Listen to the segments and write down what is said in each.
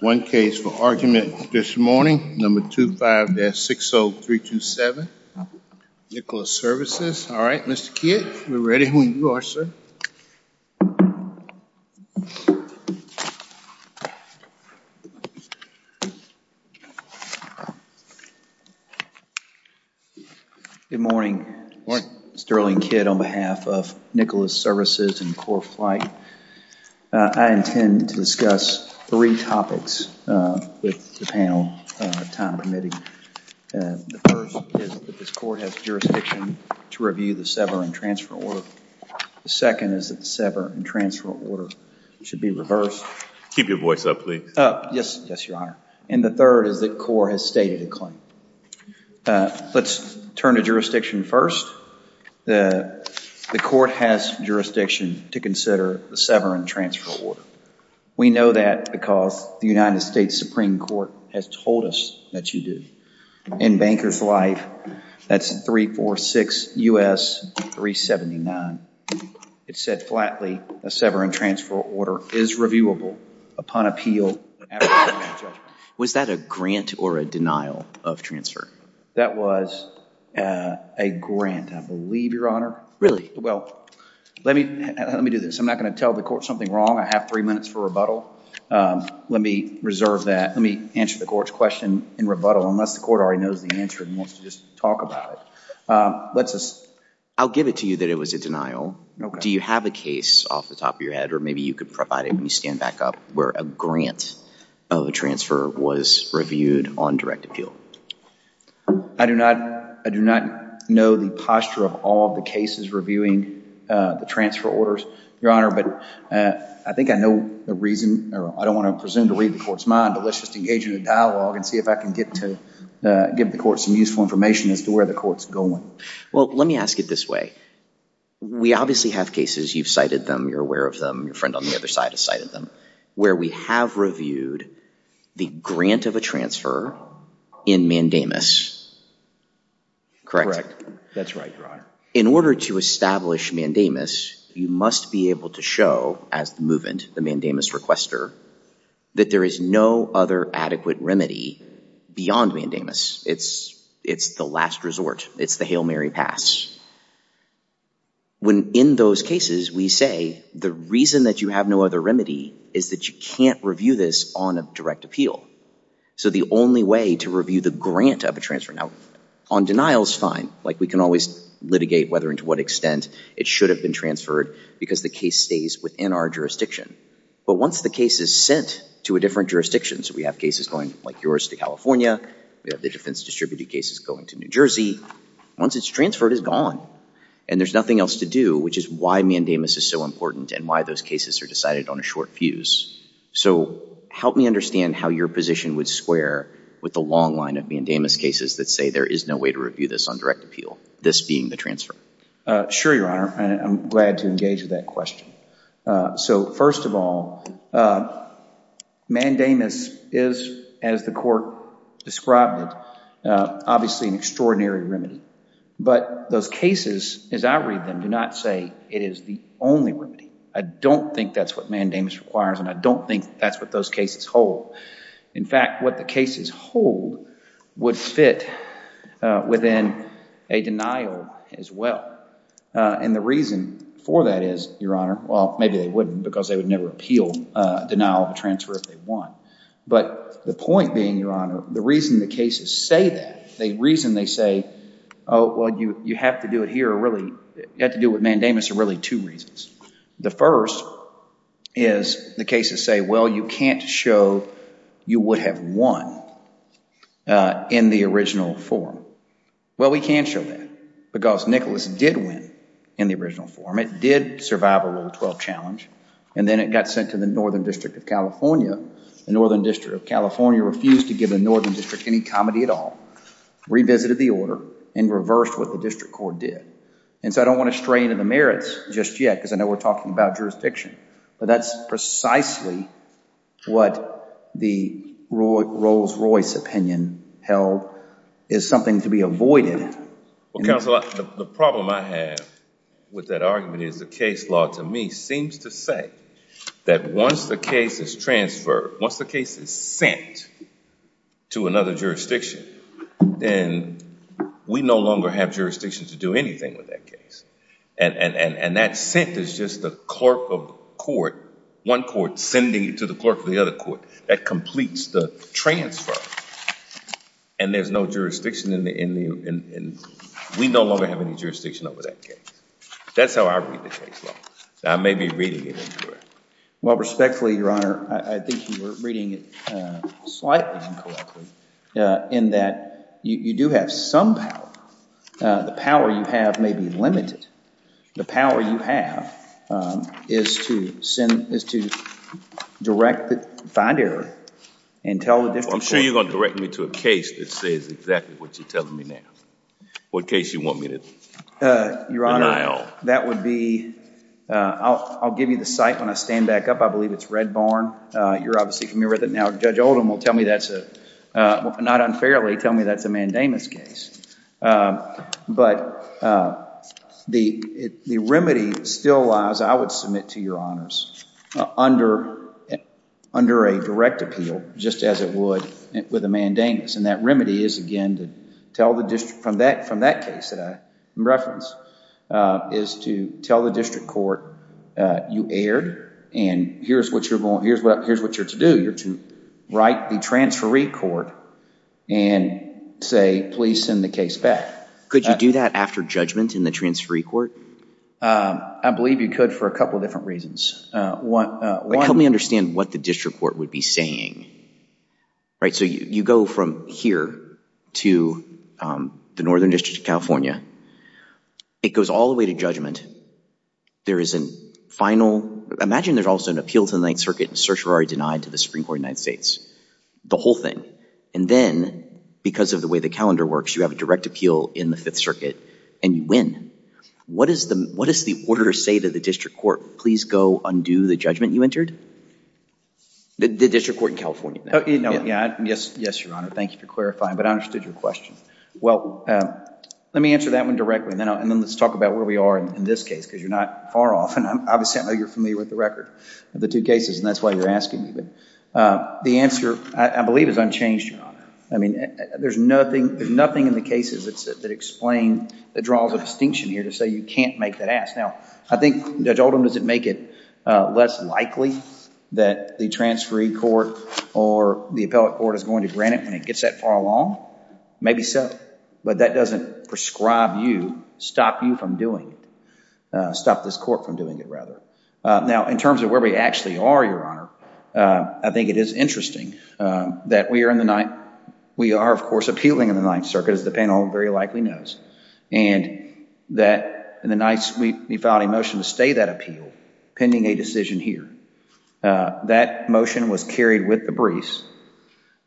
One case for argument this morning, number 25-60327, Nicholas Services. All right, Mr. Kidd, we're ready when you are, sir. Good morning. Morning. Sterling Kidd on behalf of Nicholas Services and Core Flight. I intend to discuss three topics with the panel time permitting. The first is that this court has jurisdiction to review the sever and transfer order. The second is that the sever and transfer order should be reversed. Keep your voice up, please. Yes, Your Honor. And the third is that Core has stated a claim. Let's turn to jurisdiction first. The court has jurisdiction to consider the sever and transfer order. We know that because the United States Supreme Court has told us that you do. In Banker's life, that's 346 U.S. 379. It said flatly, a sever and transfer order is reviewable upon appeal. Was that a grant or a denial of transfer? That was a grant. I believe, Your Honor. Really? Well, let me do this. I'm not going to tell the court something wrong. I have three minutes for rebuttal. Let me reserve that. Let me answer the court's question in rebuttal, unless the court already knows the answer and wants to just talk about it. I'll give it to you that it was a denial. Do you have a case off the top of your head, or maybe you could provide it when you stand back up, where a grant of a transfer was reviewed on direct appeal? I do not know the posture of all of the cases reviewing the transfer orders, Your Honor. But I think I know the reason, or I don't want to presume to read the court's mind. But let's just engage in a dialogue and see if I can get to give the court some useful information as to where the court's going. Well, let me ask it this way. We obviously have cases. You've cited them. You're aware of them. Your friend on the other side has cited them. Where we have reviewed the grant of a transfer in mandamus, correct? That's right, Your Honor. In order to establish mandamus, you must be able to show, as the movement, the mandamus requester, that there is no other adequate remedy beyond mandamus. It's the last resort. It's the Hail Mary pass. When in those cases, we say the reason that you have no other remedy is that you can't review this on a direct appeal. So the only way to review the grant of a transfer. Now, on denial is fine. We can always litigate whether and to what extent it should have been transferred, because the case stays within our jurisdiction. But once the case is sent to a different jurisdiction, so we have cases going, like yours, to California. We have the defense distributed cases going to New Jersey. Once it's transferred, it's gone. And there's nothing else to do, which is why mandamus is so important and why those cases are decided on a short fuse. So help me understand how your position would square with the long line of mandamus cases that say there is no way to review this on direct appeal, this being the transfer. Sure, Your Honor. And I'm glad to engage with that question. So first of all, mandamus is, as the court described it, obviously an extraordinary remedy. But those cases, as I read them, do not say it is the only remedy. I don't think that's what mandamus requires. And I don't think that's what those cases hold. In fact, what the cases hold would fit within a denial as well. And the reason for that is, Your Honor, well, maybe they wouldn't, because they would never appeal denial of a transfer if they won. But the point being, Your Honor, the reason the cases say that, the reason they say, oh, well, you have to do it here, really, you have to deal with mandamus, are really two reasons. The first is the cases say, well, you can't show you would have won in the original form. Well, we can show that, because Nicholas did win in the original form. It did survive a Rule 12 challenge. And then it got sent to the Northern District of California. The Northern District of California refused to give the Northern District any comedy at all, revisited the order, and reversed what the district court did. And so I don't want to stray into the merits just yet, because I know we're talking about jurisdiction. But that's precisely what the Rolls-Royce opinion held is something to be avoided. Well, counsel, the problem I have with that argument is the case law, to me, seems to say that once the case is transferred, once the case is sent to another jurisdiction, then we no longer have jurisdiction to do anything with that case. And that sent is just the clerk of court, one court sending it to the clerk of the other court. That completes the transfer. And there's no jurisdiction in the end. We no longer have any jurisdiction over that case. That's how I read the case law. I may be reading it incorrectly. Well, respectfully, Your Honor, I think you were reading it slightly incorrectly, in that you do have some power. The power you have may be limited. The power you have is to direct the fine error and tell the district court. I'm sure you're going to direct me to a case that says exactly what you're telling me now, what case you want me to keep an eye on. Your Honor, that would be, I'll give you the site when I stand back up. I believe it's Red Barn. You're obviously familiar with it now. Judge Oldham will tell me that's a, not unfairly, tell me that's a mandamus case. But the remedy still lies, I would submit to Your Honors, under a direct appeal, just as it would with a mandamus. And that remedy is, again, to tell the district from that case that I referenced, is to tell the district court you erred. And here's what you're to do. You're to write the transferee court. And say, please send the case back. Could you do that after judgment in the transferee court? I believe you could for a couple of different reasons. Help me understand what the district court would be saying. So you go from here to the Northern District of California. It goes all the way to judgment. There is a final, imagine there's also an appeal to the Ninth Circuit and search were already denied to the Supreme Court of the United States. The whole thing. And then, because of the way the calendar works, you have a direct appeal in the Fifth Circuit. And you win. What does the order say to the district court? Please go undo the judgment you entered? The district court in California. Yes, Your Honor. Thank you for clarifying. But I understood your question. Well, let me answer that one directly. And then let's talk about where we are in this case. Because you're not far off. And obviously, I know you're familiar with the record of the two cases. And that's why you're asking me. The answer, I believe, is unchanged, Your Honor. I mean, there's nothing in the cases that explain, that draws a distinction here to say you can't make that ask. Now, I think, Judge Oldham, does it make it less likely that the transferee court or the appellate court is going to grant it when it gets that far along? Maybe so. But that doesn't prescribe you, stop you from doing it. Stop this court from doing it, rather. Now, in terms of where we actually are, Your Honor, I think it is interesting that we are, of course, appealing in the Ninth Circuit, as the panel very likely knows. And that in the Ninth, we filed a motion to stay that appeal, pending a decision here. That motion was carried with the briefs.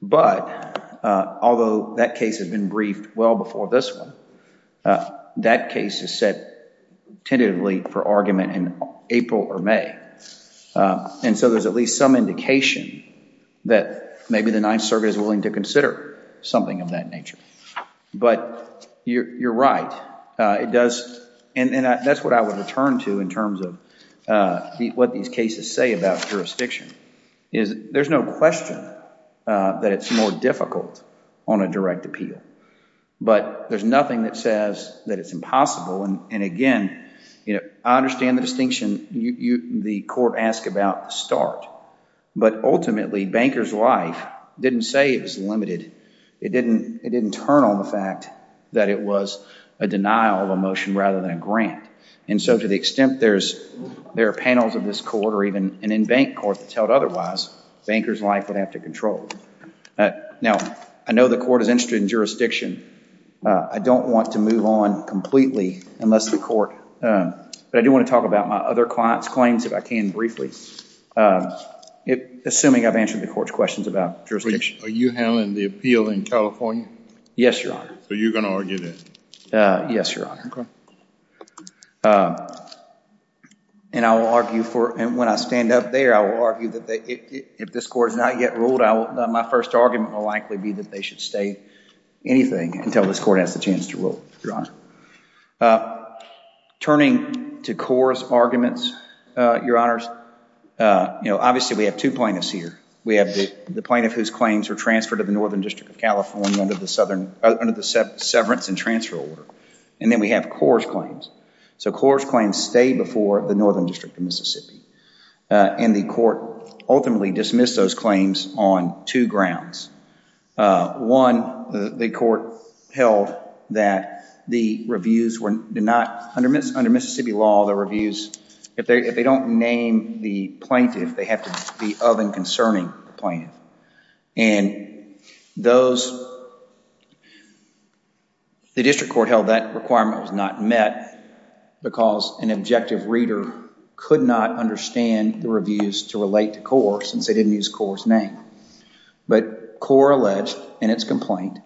But although that case had been briefed well before this one, that case is set tentatively for argument in April or May. And so there's at least some indication that maybe the Ninth Circuit is willing to consider something of that nature. But you're right. And that's what I would return to, in terms of what these cases say about jurisdiction, is there's no question that it's more difficult on a direct appeal. But there's nothing that says that it's impossible. And again, I understand the distinction. The court asked about the start. But ultimately, bankers' life didn't say it was limited. It didn't turn on the fact that it was a denial of a motion rather than a grant. And so to the extent there are panels of this court, or even an in-bank court that's held otherwise, bankers' life would have to control. Now, I know the court is interested in jurisdiction. I don't want to move on completely, unless the court. But I do want to talk about my other client's claims if I can briefly, assuming I've answered the court's questions about jurisdiction. Are you handling the appeal in California? Yes, Your Honor. So you're going to argue that? Yes, Your Honor. OK. And I will argue for it. And when I stand up there, I will My first argument will likely be that they should state anything until this court has the chance to rule, Your Honor. Turning to Core's arguments, Your Honors, obviously we have two plaintiffs here. We have the plaintiff whose claims were transferred to the Northern District of California under the severance and transfer order. And then we have Core's claims. So Core's claims stay before the Northern District of Mississippi. And the court ultimately dismissed those claims on two grounds. One, the court held that the reviews were not, under Mississippi law, the reviews, if they don't name the plaintiff, they have to be of and concerning the plaintiff. And the district court held that requirement was not met, because an objective reader could not understand the reviews to relate to Core, since they didn't use Core's name. But Core alleged in its complaint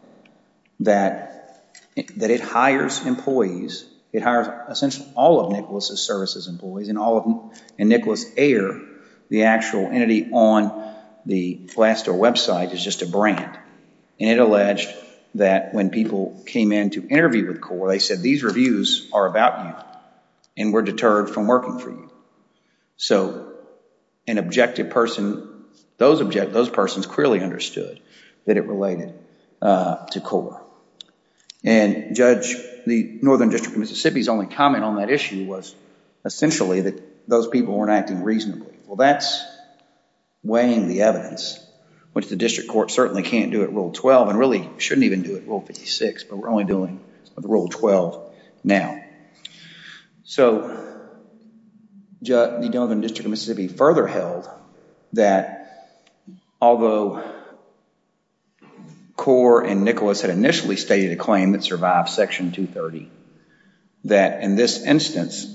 that it hires employees. It hires, essentially, all of Nicholas's services employees. And Nicholas Ayer, the actual entity on the Glassdoor website, is just a brand. And it alleged that when people came in to interview with Core, they said, these reviews are about you. And we're deterred from working for you. So an objective person, those persons clearly understood that it related to Core. And Judge, the Northern District of Mississippi's only comment on that issue was, essentially, that those people weren't acting reasonably. Well, that's weighing the evidence, which the district court certainly can't do at Rule 12, and really shouldn't even do it at Rule 56. But we're only doing the Rule 12 now. So the Northern District of Mississippi further held that although Core and Nicholas had initially stated a claim that survived Section 230, that in this instance,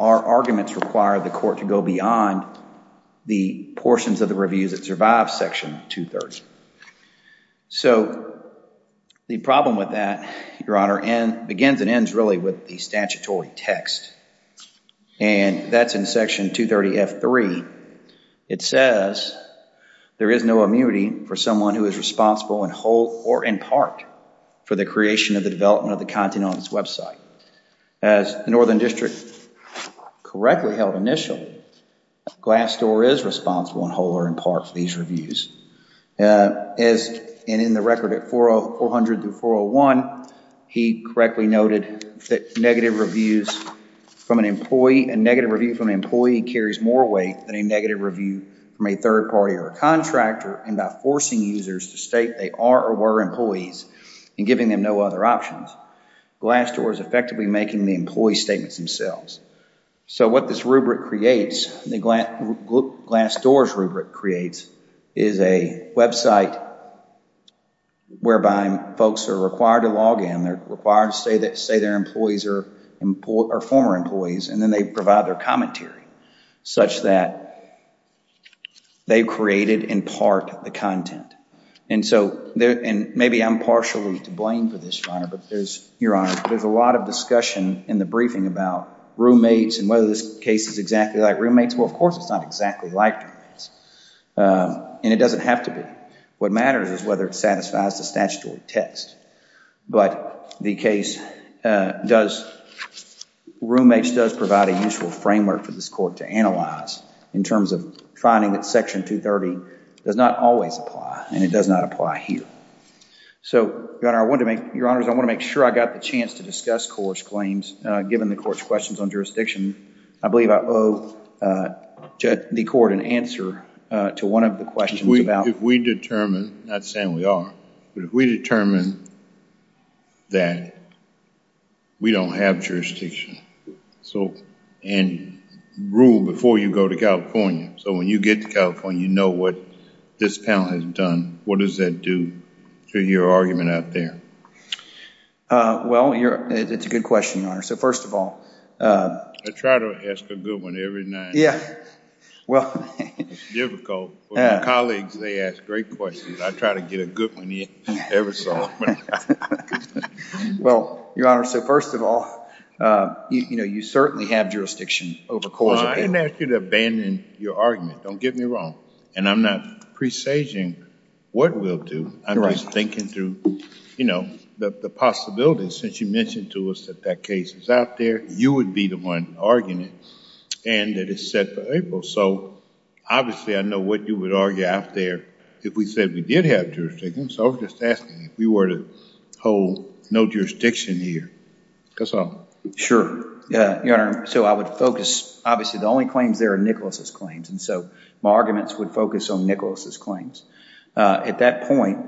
our arguments require the court to go beyond the portions of the reviews that survived Section 230. So the problem with that, Your Honor, begins and ends really with the statutory text. And that's in Section 230F3. It says, there is no immunity for someone who is responsible in whole or in part for the creation of the development of the content on this website. As the Northern District correctly held initially, Glassdoor is responsible in whole or in part for these reviews. And in the record at 400-401, he correctly noted that negative reviews from an employee and negative review from an employee carries more weight than a negative review from a third party or a contractor, and by forcing users to state they are or were employees and giving them no other options. Glassdoor is effectively making the employee statements themselves. So what this rubric creates, Glassdoor's rubric creates, is a website whereby folks are required to log in. They're required to say their employees are former employees, and then they provide their commentary such that they created in part the content. And so maybe I'm partially to blame for this, Your Honor, but there's a lot of discussion in the briefing about roommates and whether this case is exactly like roommates. Well, of course it's not exactly like roommates, and it doesn't have to be. What matters is whether it satisfies the statutory test. But the case does, roommates does provide a useful framework for this court to analyze in terms of finding that Section 230 does not always apply, and it does not apply here. So Your Honor, I want to make, Your Honors, I want to make sure I got the chance to discuss court's claims given the court's questions on jurisdiction. I believe I owe the court an answer to one of the questions about. If we determine, not saying we are, but if we determine that we don't have jurisdiction, and rule before you go to California, so when you get to California, you know what this panel has done, what does that do to your argument out there? Well, it's a good question, Your Honor. So first of all. I try to ask a good one every now and then. Well, it's difficult, but my colleagues, they ask great questions. I try to get a good one in every so often. Well, Your Honor, so first of all, you certainly have jurisdiction over cause of error. Well, I didn't ask you to abandon your argument. Don't get me wrong. And I'm not presaging what we'll do. I'm just thinking through the possibilities, since you mentioned to us that that case is out there, you would be the one arguing it, and that it's set for April. So obviously, I know what you would argue out there. If we said we did have jurisdiction, so I was just asking if we were to hold no jurisdiction here. Sure. So I would focus, obviously, the only claims there are Nicholas's claims. And so my arguments would focus on Nicholas's claims. At that point,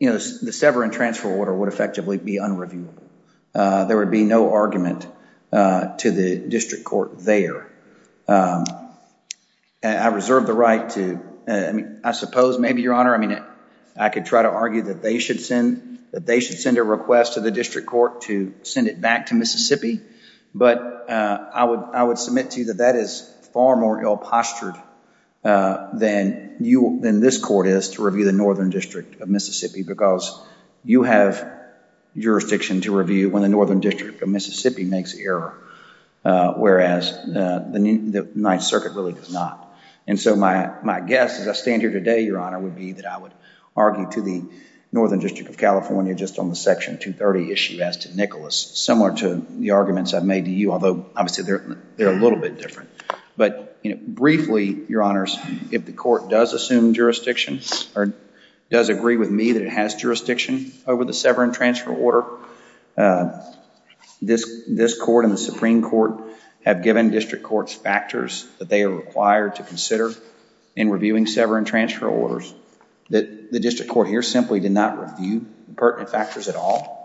the sever and transfer order would effectively be unreviewable. There would be no argument to the district court there. I reserve the right to, I suppose, maybe, Your Honor, I could try to argue that they should send a request to the district court to send it back to Mississippi. But I would submit to you that that is far more ill-postured than this court is to review the Northern District of Mississippi, because you have jurisdiction to review when the Northern District of Mississippi makes error, whereas the Ninth Circuit really does not. And so my guess, as I stand here today, Your Honor, would be that I would argue to the Northern District of California just on the Section 230 issue as to Nicholas, similar to the arguments I've made to you, although, obviously, they're a little bit different. But briefly, Your Honors, if the court does assume jurisdiction or does agree with me that it has jurisdiction over the sever and transfer order, this court and the Supreme Court have given district courts factors that they are required to consider in reviewing sever and transfer orders that the district court here simply did not review the pertinent factors at all.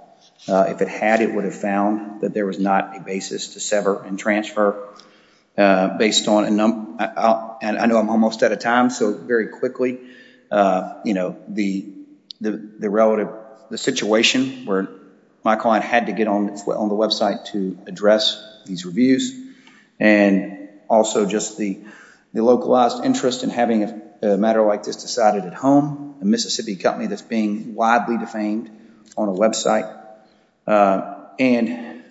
If it had, it would have found that there was not a basis to sever and transfer based on a number of, and I know I'm almost out of time, so very quickly, the relative, the situation where my client had to get on the website to address these reviews, and also just the localized interest in having a matter like this decided at home, a Mississippi company that's being widely defamed on a website, and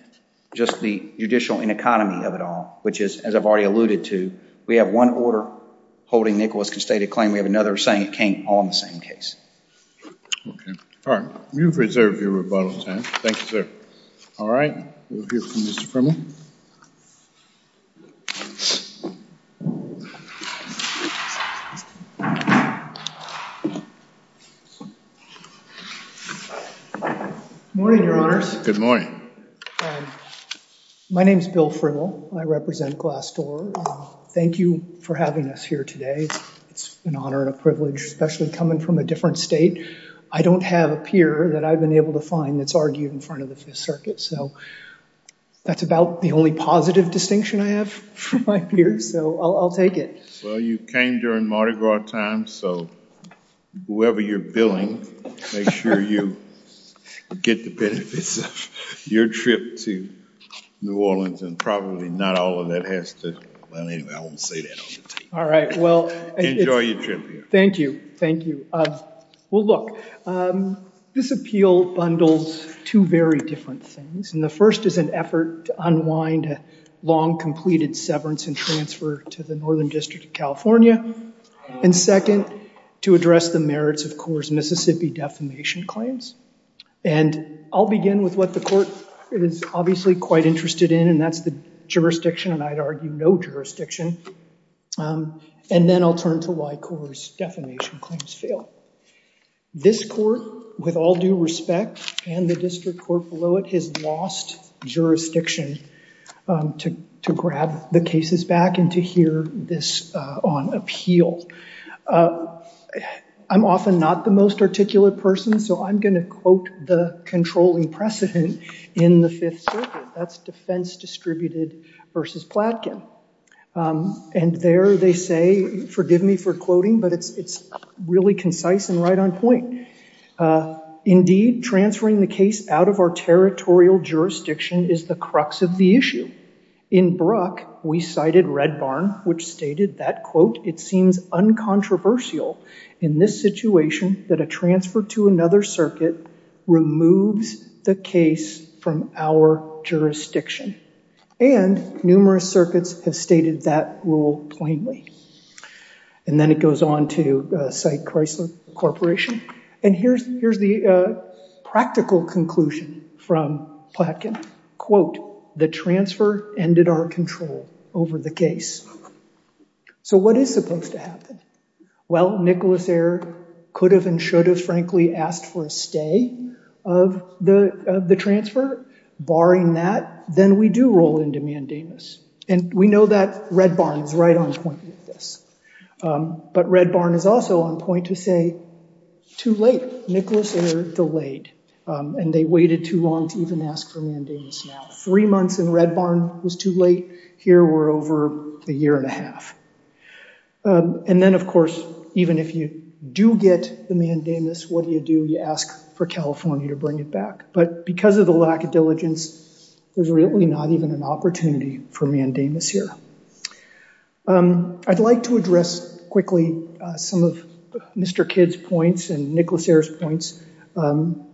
just the judicial ineconomy of it all, which is, as I've already alluded to, we have one order holding Nicholas constated claim, we have another saying it came on the same case. All right, you've reserved your rebuttal time. Thank you, sir. All right, we'll hear from Mr. Frimmel. Good morning, your honors. Good morning. My name's Bill Frimmel, I represent Glassdoor. Thank you for having us here today. It's an honor and a privilege, especially coming from a different state. I don't have a peer that I've been able to find that's argued in front of the Fifth Circuit, so that's about the only positive distinction I have from my peers, so I'll take it. Well, you came during Mardi Gras time, so whoever you're billing, make sure you get the benefits of your trip to New Orleans, and probably not all of that has to, well, anyway, I won't say that on the tape. All right, well, enjoy your trip here. Thank you, thank you. Well, look, this appeal bundles two very different things, and the first is an effort to unwind a long-completed severance and transfer to the Northern District of California, and second, to address the merits of Core's Mississippi defamation claims, and I'll begin with what the court is obviously quite interested in, and that's the jurisdiction, and I'd argue no jurisdiction, and then I'll turn to why Core's defamation claims fail. This court, with all due respect, and the district court below it, has lost jurisdiction to grab the cases back and to hear this on appeal. I'm often not the most articulate person, so I'm gonna quote the controlling precedent in the Fifth Circuit. That's defense distributed versus Platkin, and there they say, forgive me for quoting, but it's really concise and right on point. Indeed, transferring the case out of our territorial jurisdiction is the crux of the issue. In Brock, we cited Red Barn, which stated that, quote, it seems uncontroversial in this situation that a transfer to another circuit removes the case from our jurisdiction, and numerous circuits have stated that rule plainly, and then it goes on to cite Chrysler Corporation, and here's the practical conclusion from Platkin. Quote, the transfer ended our control over the case. So what is supposed to happen? Well, Nicholas Eyre could have and should have, frankly, asked for a stay of the transfer. Barring that, then we do roll into mandamus, and we know that Red Barn is right on point with this, but Red Barn is also on point to say, too late. Nicholas Eyre delayed, and they waited too long to even ask for mandamus now. Three months in Red Barn was too late. Here, we're over a year and a half, and then, of course, even if you do get the mandamus, what do you do? You ask for California to bring it back, but because of the lack of diligence, there's really not even an opportunity for mandamus here. I'd like to address quickly some of Mr. Kidd's points and Nicholas Eyre's points on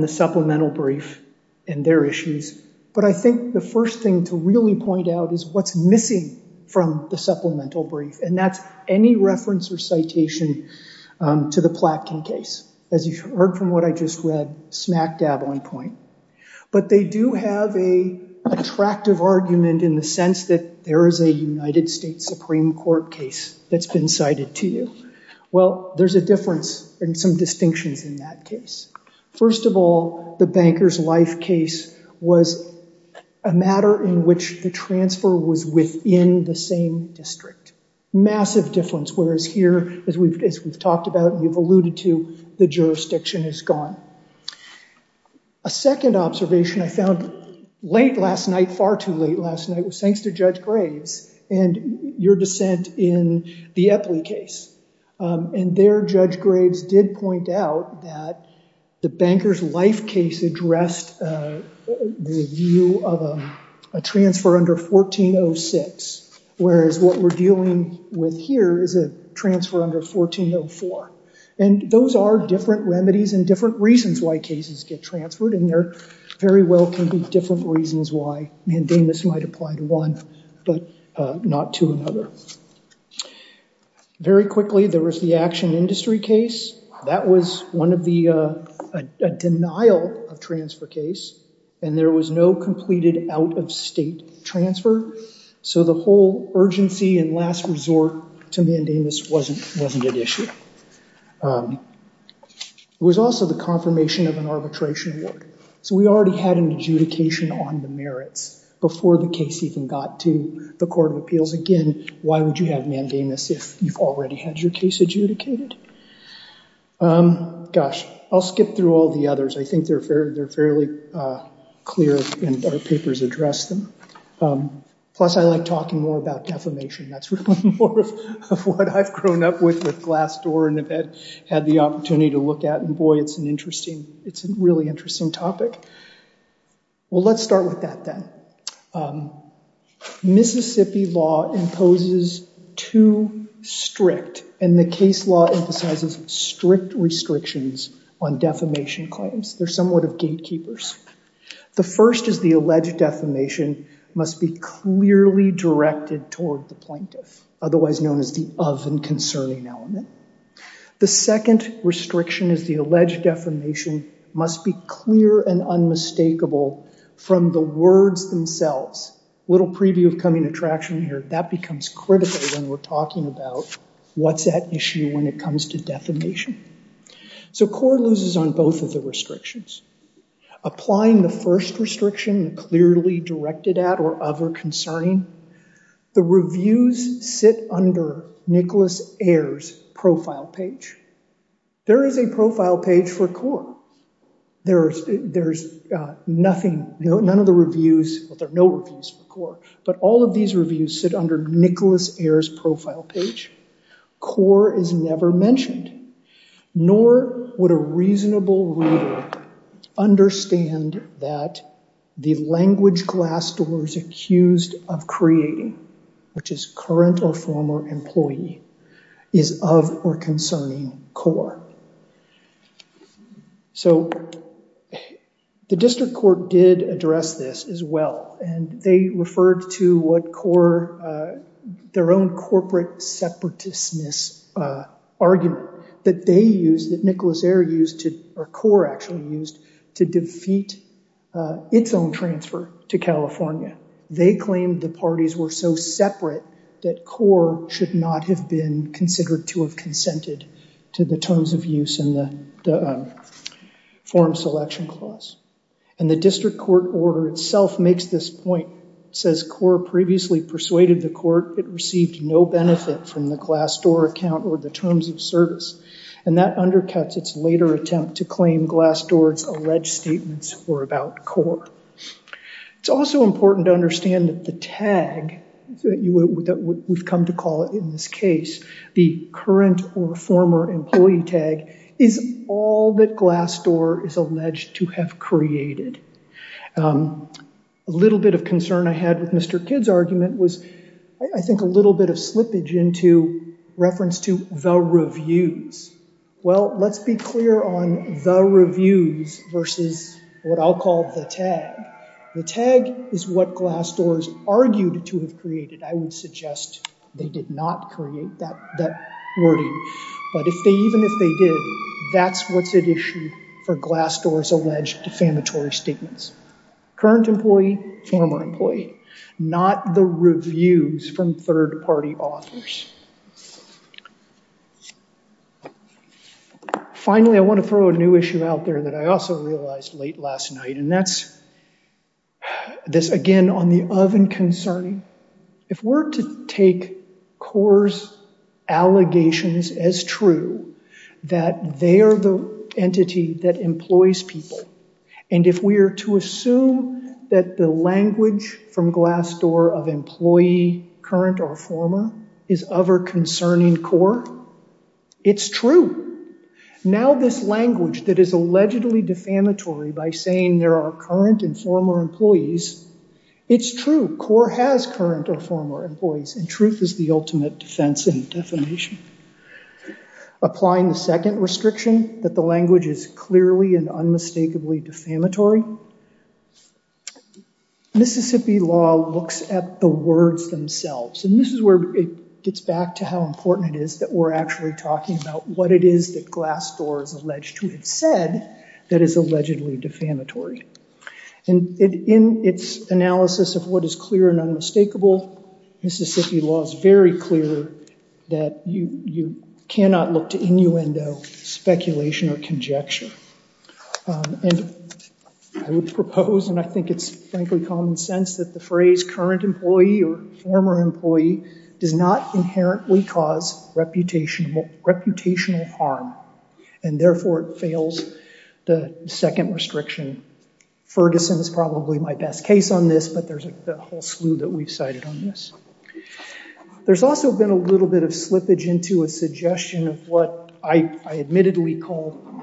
the supplemental brief and their issues, but I think the first thing to really point out is what's missing from the supplemental brief, and that's any reference or citation to the Platkin case. As you heard from what I just read, smack dab on point, but they do have a attractive argument in the sense that there is a United States Supreme Court case that's been cited to you. Well, there's a difference and some distinctions in that case. First of all, the Bankers Life case was a matter in which the transfer was within the same district. Massive difference, whereas here, as we've talked about and you've alluded to, the jurisdiction is gone. A second observation I found late last night, far too late last night, was thanks to Judge Graves and your dissent in the Epley case, and there, Judge Graves did point out that the Bankers Life case addressed the view of a transfer under 1406, whereas what we're dealing with here is a transfer under 1404, and those are different remedies and different reasons why cases get transferred, and there very well can be different reasons why mandamus might apply to one, but not to another. Very quickly, there was the Action Industry case. That was one of the, a denial of transfer case, and there was no completed out-of-state transfer, so the whole urgency and last resort to mandamus wasn't an issue. It was also the confirmation of an arbitration award, so we already had an adjudication on the merits before the case even got to the Court of Appeals. Again, why would you have mandamus if you've already had your case adjudicated? Gosh, I'll skip through all the others. I think they're fairly clear, and our papers address them. Plus, I like talking more about defamation. That's really more of what I've grown up with with Glassdoor and have had the opportunity to look at, and boy, it's an interesting, it's a really interesting topic. Well, let's start with that, then. Mississippi law imposes two strict, and the case law emphasizes strict restrictions on defamation claims. They're somewhat of gatekeepers. The first is the alleged defamation must be clearly directed toward the plaintiff, otherwise known as the of and concerning element. The second restriction is the alleged defamation must be clear and unmistakable from the words themselves. Little preview of coming attraction here. That becomes critical when we're talking about what's at issue when it comes to defamation. So Court loses on both of the restrictions. Applying the first restriction, clearly directed at or of or concerning, the reviews sit under Nicholas Ayer's profile page. There is a profile page for Core. There's nothing, none of the reviews, well, there are no reviews for Core, but all of these reviews sit under Nicholas Ayer's profile page. Core is never mentioned, nor would a reasonable reader understand that the language Glassdoor is accused of creating, which is current or former employee, is of or concerning Core. So the District Court did address this as well, and they referred to what Core, their own corporate separatistness argument that they used, that Nicholas Ayer used, or Core actually used, to defeat its own transfer to California. They claimed the parties were so separate that Core should not have been considered to have consented to the terms of use in the form selection clause. And the District Court order itself makes this point. It says Core previously persuaded the court it received no benefit from the Glassdoor account or the terms of service, and that undercuts its later attempt to claim Glassdoor's alleged statements were about Core. It's also important to understand that the tag that we've come to call it in this case, the current or former employee tag, is all that Glassdoor is alleged to have created. A little bit of concern I had with Mr. Kidd's argument was I think a little bit of slippage into reference to the reviews. Well, let's be clear on the reviews versus what I'll call the tag. The tag is what Glassdoor's argued to have created. I would suggest they did not create that wording, but even if they did, that's what's at issue for Glassdoor's alleged defamatory statements. Current employee, former employee, not the reviews from third-party authors. Finally, I want to throw a new issue out there that I also realized late last night, and that's this again on the of and concerning. If we're to take Core's allegations as true that they are the entity that employs people, and if we are to assume that the language from Glassdoor of employee, current or former is of or concerning Core, it's true. Now this language that is allegedly defamatory by saying there are current and former employees, it's true, Core has current or former employees, and truth is the ultimate defense and defamation. Applying the second restriction that the language is clearly and unmistakably defamatory, Mississippi law looks at the words themselves, and this is where it gets back to how important it is that we're actually talking about what it is that Glassdoor has alleged to have said that is allegedly defamatory. And in its analysis of what is clear and unmistakable, Mississippi law is very clear that you cannot look to innuendo speculation or conjecture. And I would propose, and I think it's frankly common sense that the phrase current employee or former employee does not inherently cause reputational harm, and therefore it fails the second restriction. Ferguson is probably my best case on this, but there's a whole slew that we've cited on this. There's also been a little bit of slippage into a suggestion of what I admittedly call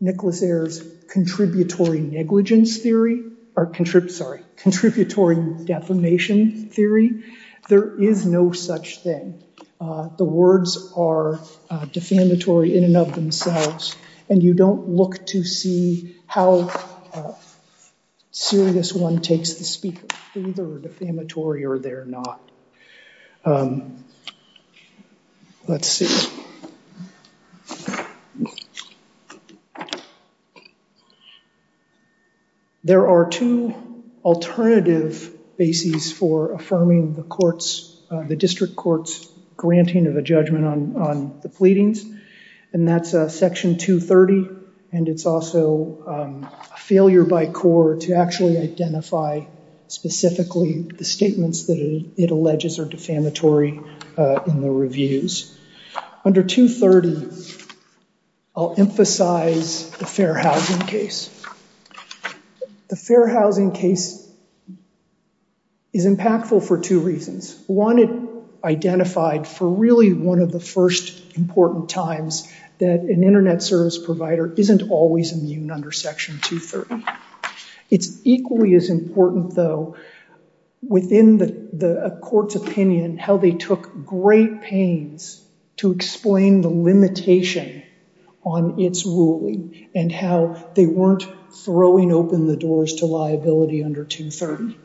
Nicholas Ayer's contributory negligence theory, or sorry, contributory defamation theory. There is no such thing. The words are defamatory in and of themselves, and you don't look to see how serious one takes the speaker. They're either defamatory or they're not. Let's see. There are two alternative bases for affirming the courts, the district court's granting of a judgment on the pleadings, and that's section 230, and it's also a failure by core to actually identify specifically the statements that it alleges are defamatory in the reviews. Under 230, I'll emphasize the fair housing case. The fair housing case is impactful for two reasons. One, it identified for really one of the first important times that an internet service provider isn't always immune under section 230. It's equally as important, though, within the court's opinion how they took great pains to explain the limitation on its ruling and how they weren't throwing open the doors to liability under 230.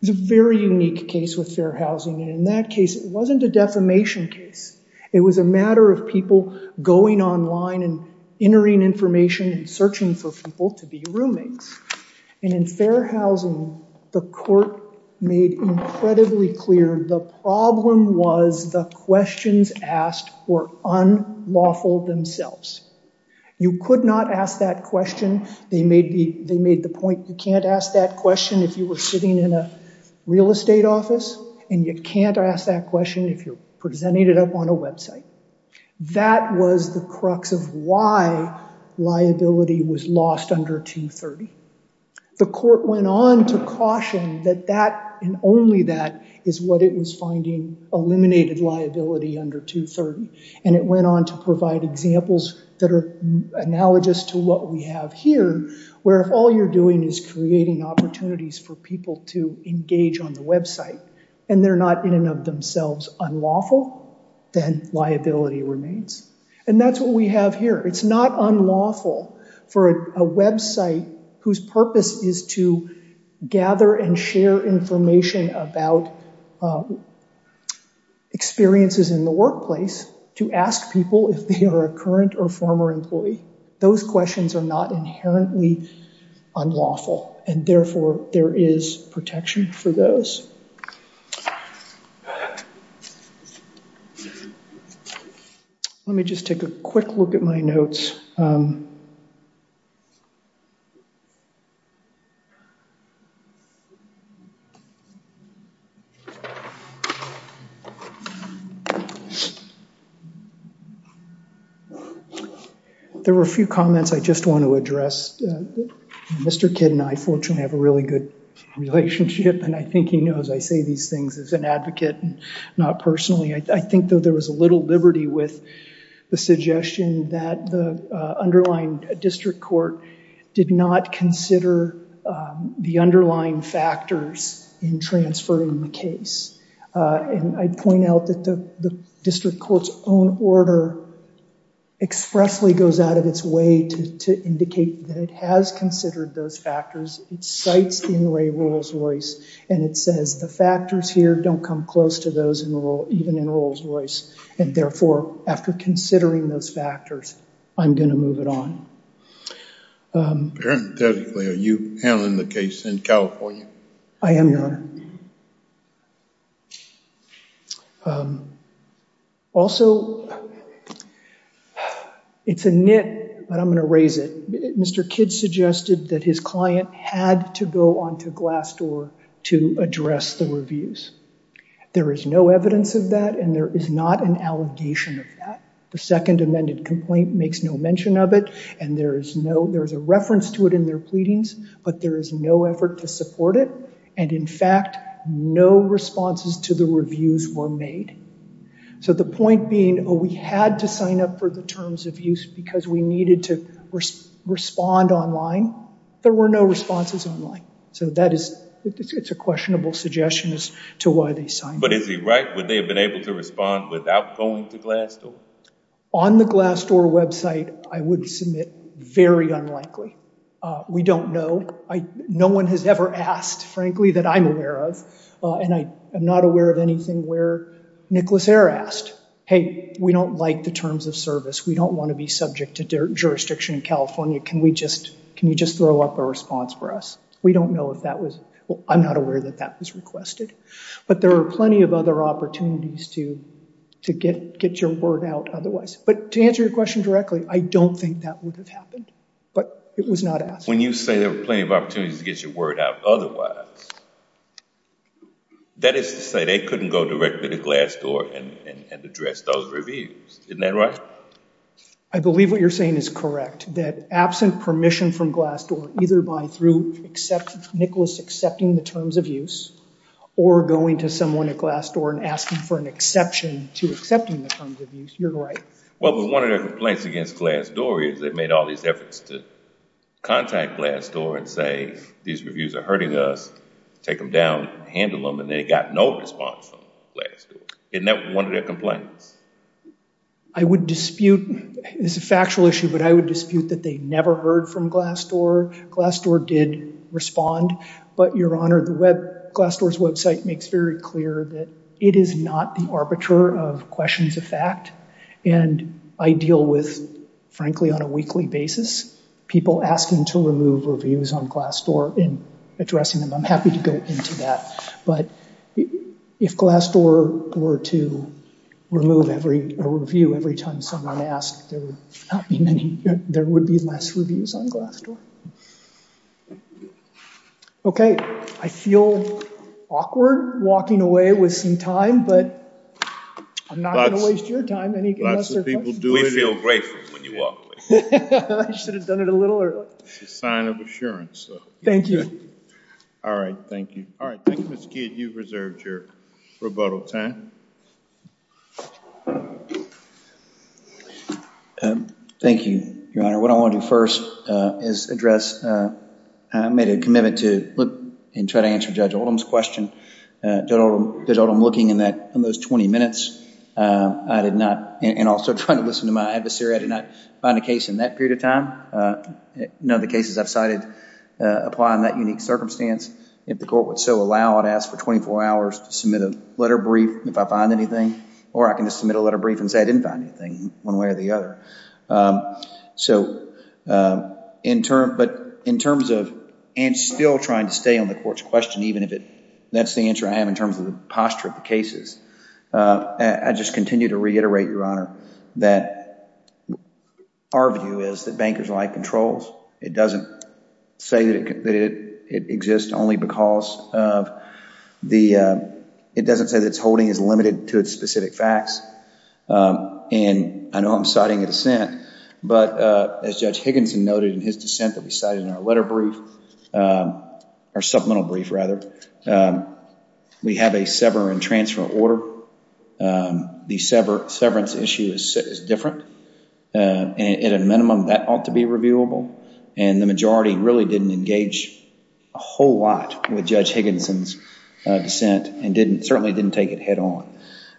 There's a very unique case with fair housing, and in that case, it wasn't a defamation case. It was a matter of people going online and entering information and searching for people to be roommates. And in fair housing, the court made incredibly clear the problem was the questions asked were unlawful themselves. You could not ask that question. They made the point you can't ask that question if you were sitting in a real estate office, and you can't ask that question if you're presenting it up on a website. That was the crux of why liability was lost under 230. The court went on to caution that that and only that is what it was finding eliminated liability under 230, and it went on to provide examples that are analogous to what we have here, where if all you're doing is creating opportunities for people to engage on the website, and they're not in and of themselves unlawful, then liability remains. And that's what we have here. It's not unlawful for a website whose purpose is to gather and share information about experiences in the workplace to ask people if they are a current or former employee. Those questions are not inherently unlawful, and therefore, there is protection for those. Let me just take a quick look at my notes. There were a few comments I just want to address. Mr. Kidd and I fortunately have a really good relationship, and I think he knows I say these things as an advocate, not personally. I think that there was a little liberty with the suggestion that the underlying district court did not consider the underlying factors in transferring the case. And I'd point out that the district court's own order expressly goes out of its way to indicate that it has considered those factors. It cites Inouye Rolls-Royce, and it says the factors here don't come close to those even in Rolls-Royce, and therefore, after considering those factors, I'm going to move it on. Parenthetically, are you handling the case in California? I am, Your Honor. Also, it's a nit, but I'm going to raise it. Mr. Kidd suggested that his client had to go onto Glassdoor to address the reviews. There is no evidence of that, and there is not an allegation of that. The second amended complaint makes no mention of it, and there is a reference to it in their pleadings, but there is no effort to support it, and in fact, no responses to the reviews were made. So the point being, oh, we had to sign up for the terms of use because we needed to respond online. There were no responses online. So that is, it's a questionable suggestion to why they signed up. But is he right? Would they have been able to respond without going to Glassdoor? On the Glassdoor website, I would submit very unlikely. We don't know. No one has ever asked, frankly, that I'm aware of, and I am not aware of anything where Nicholas Eyre asked. Hey, we don't like the terms of service. We don't want to be subject to jurisdiction in California. Can we just, can you just throw up a response for us? We don't know if that was, I'm not aware that that was requested. But there are plenty of other opportunities to get your word out otherwise. But to answer your question directly, I don't think that would have happened, but it was not asked. When you say there were plenty of opportunities to get your word out otherwise, that is to say they couldn't go directly to Glassdoor and address those reviews, isn't that right? I believe what you're saying is correct, that absent permission from Glassdoor, either by through Nicholas accepting the terms of use, or going to someone at Glassdoor and asking for an exception to accepting the terms of use. You're right. Well, but one of their complaints against Glassdoor is they made all these efforts to contact Glassdoor and say, these reviews are hurting us, take them down, handle them, and they got no response from Glassdoor. Isn't that one of their complaints? I would dispute, this is a factual issue, but I would dispute that they never heard from Glassdoor. Glassdoor did respond, but your honor, Glassdoor's website makes very clear that it is not the arbiter of questions of fact, and I deal with, frankly, on a weekly basis, people asking to remove reviews on Glassdoor and addressing them. I'm happy to go into that, but if Glassdoor were to remove a review every time someone asked, there would be less reviews on Glassdoor. Okay, I feel awkward walking away with some time, but I'm not gonna waste your time, unless there are questions. We feel grateful when you walk away. I should have done it a little earlier. It's a sign of assurance, though. Thank you. All right, thank you. All right, thank you, Ms. Kidd. You've reserved your rebuttal time. Thank you, your honor. What I wanna do first is address, I made a commitment to look and try to answer Judge Oldham's question. Judge Oldham, looking in those 20 minutes, I did not, and also trying to listen to my adversary, I did not find a case in that period of time. None of the cases I've cited apply in that unique circumstance. If the court would so allow, I'd ask for 24 hours to submit a letter brief if I find anything, or I can just submit a letter brief and say I didn't find anything, one way or the other. But in terms of, and still trying to stay on the court's question, even if that's the answer I have in terms of the posture of the cases, I just continue to reiterate, your honor, that our view is that bankers are like controls. It doesn't say that it exists only because of the, it doesn't say that its holding is limited to its specific facts. And I know I'm citing a dissent, but as Judge Higginson noted in his dissent that we cited in our letter brief, our supplemental brief, rather, we have a sever and transfer order. The severance issue is different. At a minimum, that ought to be reviewable. And the majority really didn't engage a whole lot with Judge Higginson's dissent, and certainly didn't take it head on.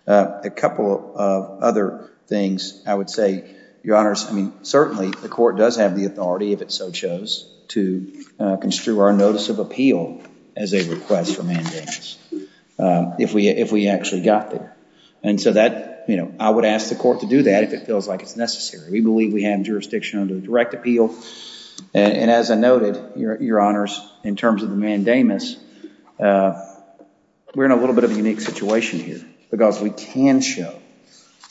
A couple of other things I would say, your honors, I mean, certainly, the court does have the authority, if it so chose, to construe our notice of appeal as a request for mandamus if we actually got there. And so that, I would ask the court to do that if it feels like it's necessary. We believe we have jurisdiction under direct appeal. And as I noted, your honors, in terms of the mandamus, we're in a little bit of a unique situation here, because we can show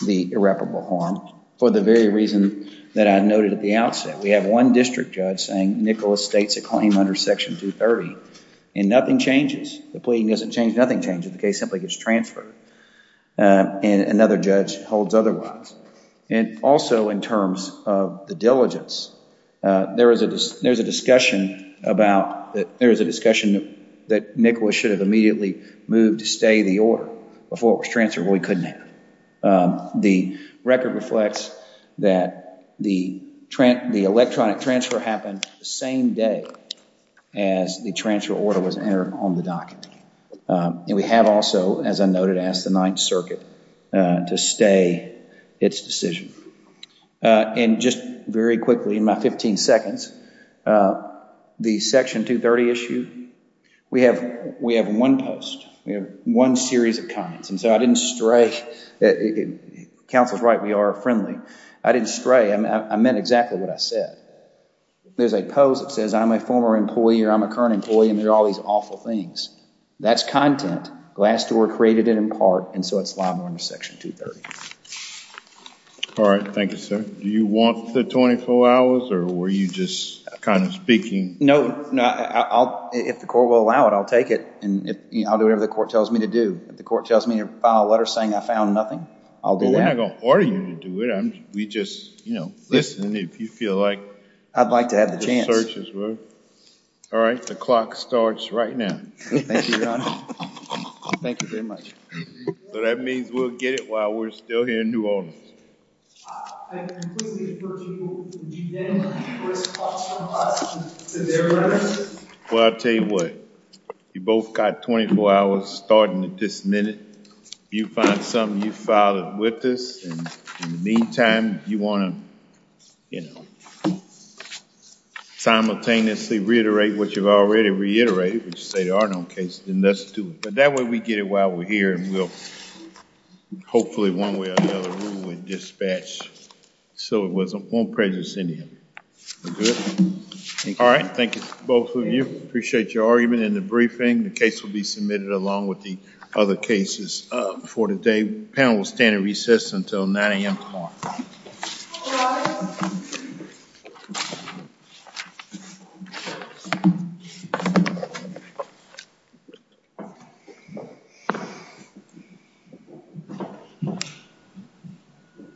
the irreparable harm for the very reason that I noted at the outset. We have one district judge saying Nicholas states a claim under Section 230, and nothing changes. The plea doesn't change, nothing changes. The case simply gets transferred. And another judge holds otherwise. And also, in terms of the diligence, there is a discussion about, there is a discussion that Nicholas should have immediately moved to stay the order before it was transferred. Well, he couldn't have. The record reflects that the electronic transfer happened the same day as the transfer order was entered on the docket. And we have also, as I noted, asked the Ninth Circuit to stay its decision. And just very quickly, in my 15 seconds, the Section 230 issue, we have one post, we have one series of comments. And so I didn't stray, counsel's right, we are friendly. I didn't stray, I meant exactly what I said. There's a post that says, I'm a former employee or I'm a current employee, and there are all these awful things. That's content. Glassdoor created it in part, and so it's liable under Section 230. All right, thank you, sir. Do you want the 24 hours, or were you just kind of speaking? No, if the court will allow it, I'll take it. And I'll do whatever the court tells me to do. If the court tells me to file a letter saying I found nothing, I'll do that. Well, we're not gonna order you to do it. We just, you know, listen if you feel like. I'd like to have the chance. Just search as well. All right, the clock starts right now. Thank you, Your Honor. Thank you very much. So that means we'll get it while we're still here in New Orleans. I completely approach you with the unanimous response from us to their letter. Well, I'll tell you what. You both got 24 hours starting at this minute. You find something, you file it with us, and in the meantime, you want to, you know, simultaneously reiterate what you've already reiterated, which is say there are no cases, then let's do it. But that way, we get it while we're here, and we'll hopefully one way or another rule and dispatch so it wasn't one prejudice in him. We're good? All right, thank you, both of you. Appreciate your argument in the briefing. The case will be submitted along with the other cases. For today, panel will stand at recess until 9 a.m. tomorrow. All rise. Thank you.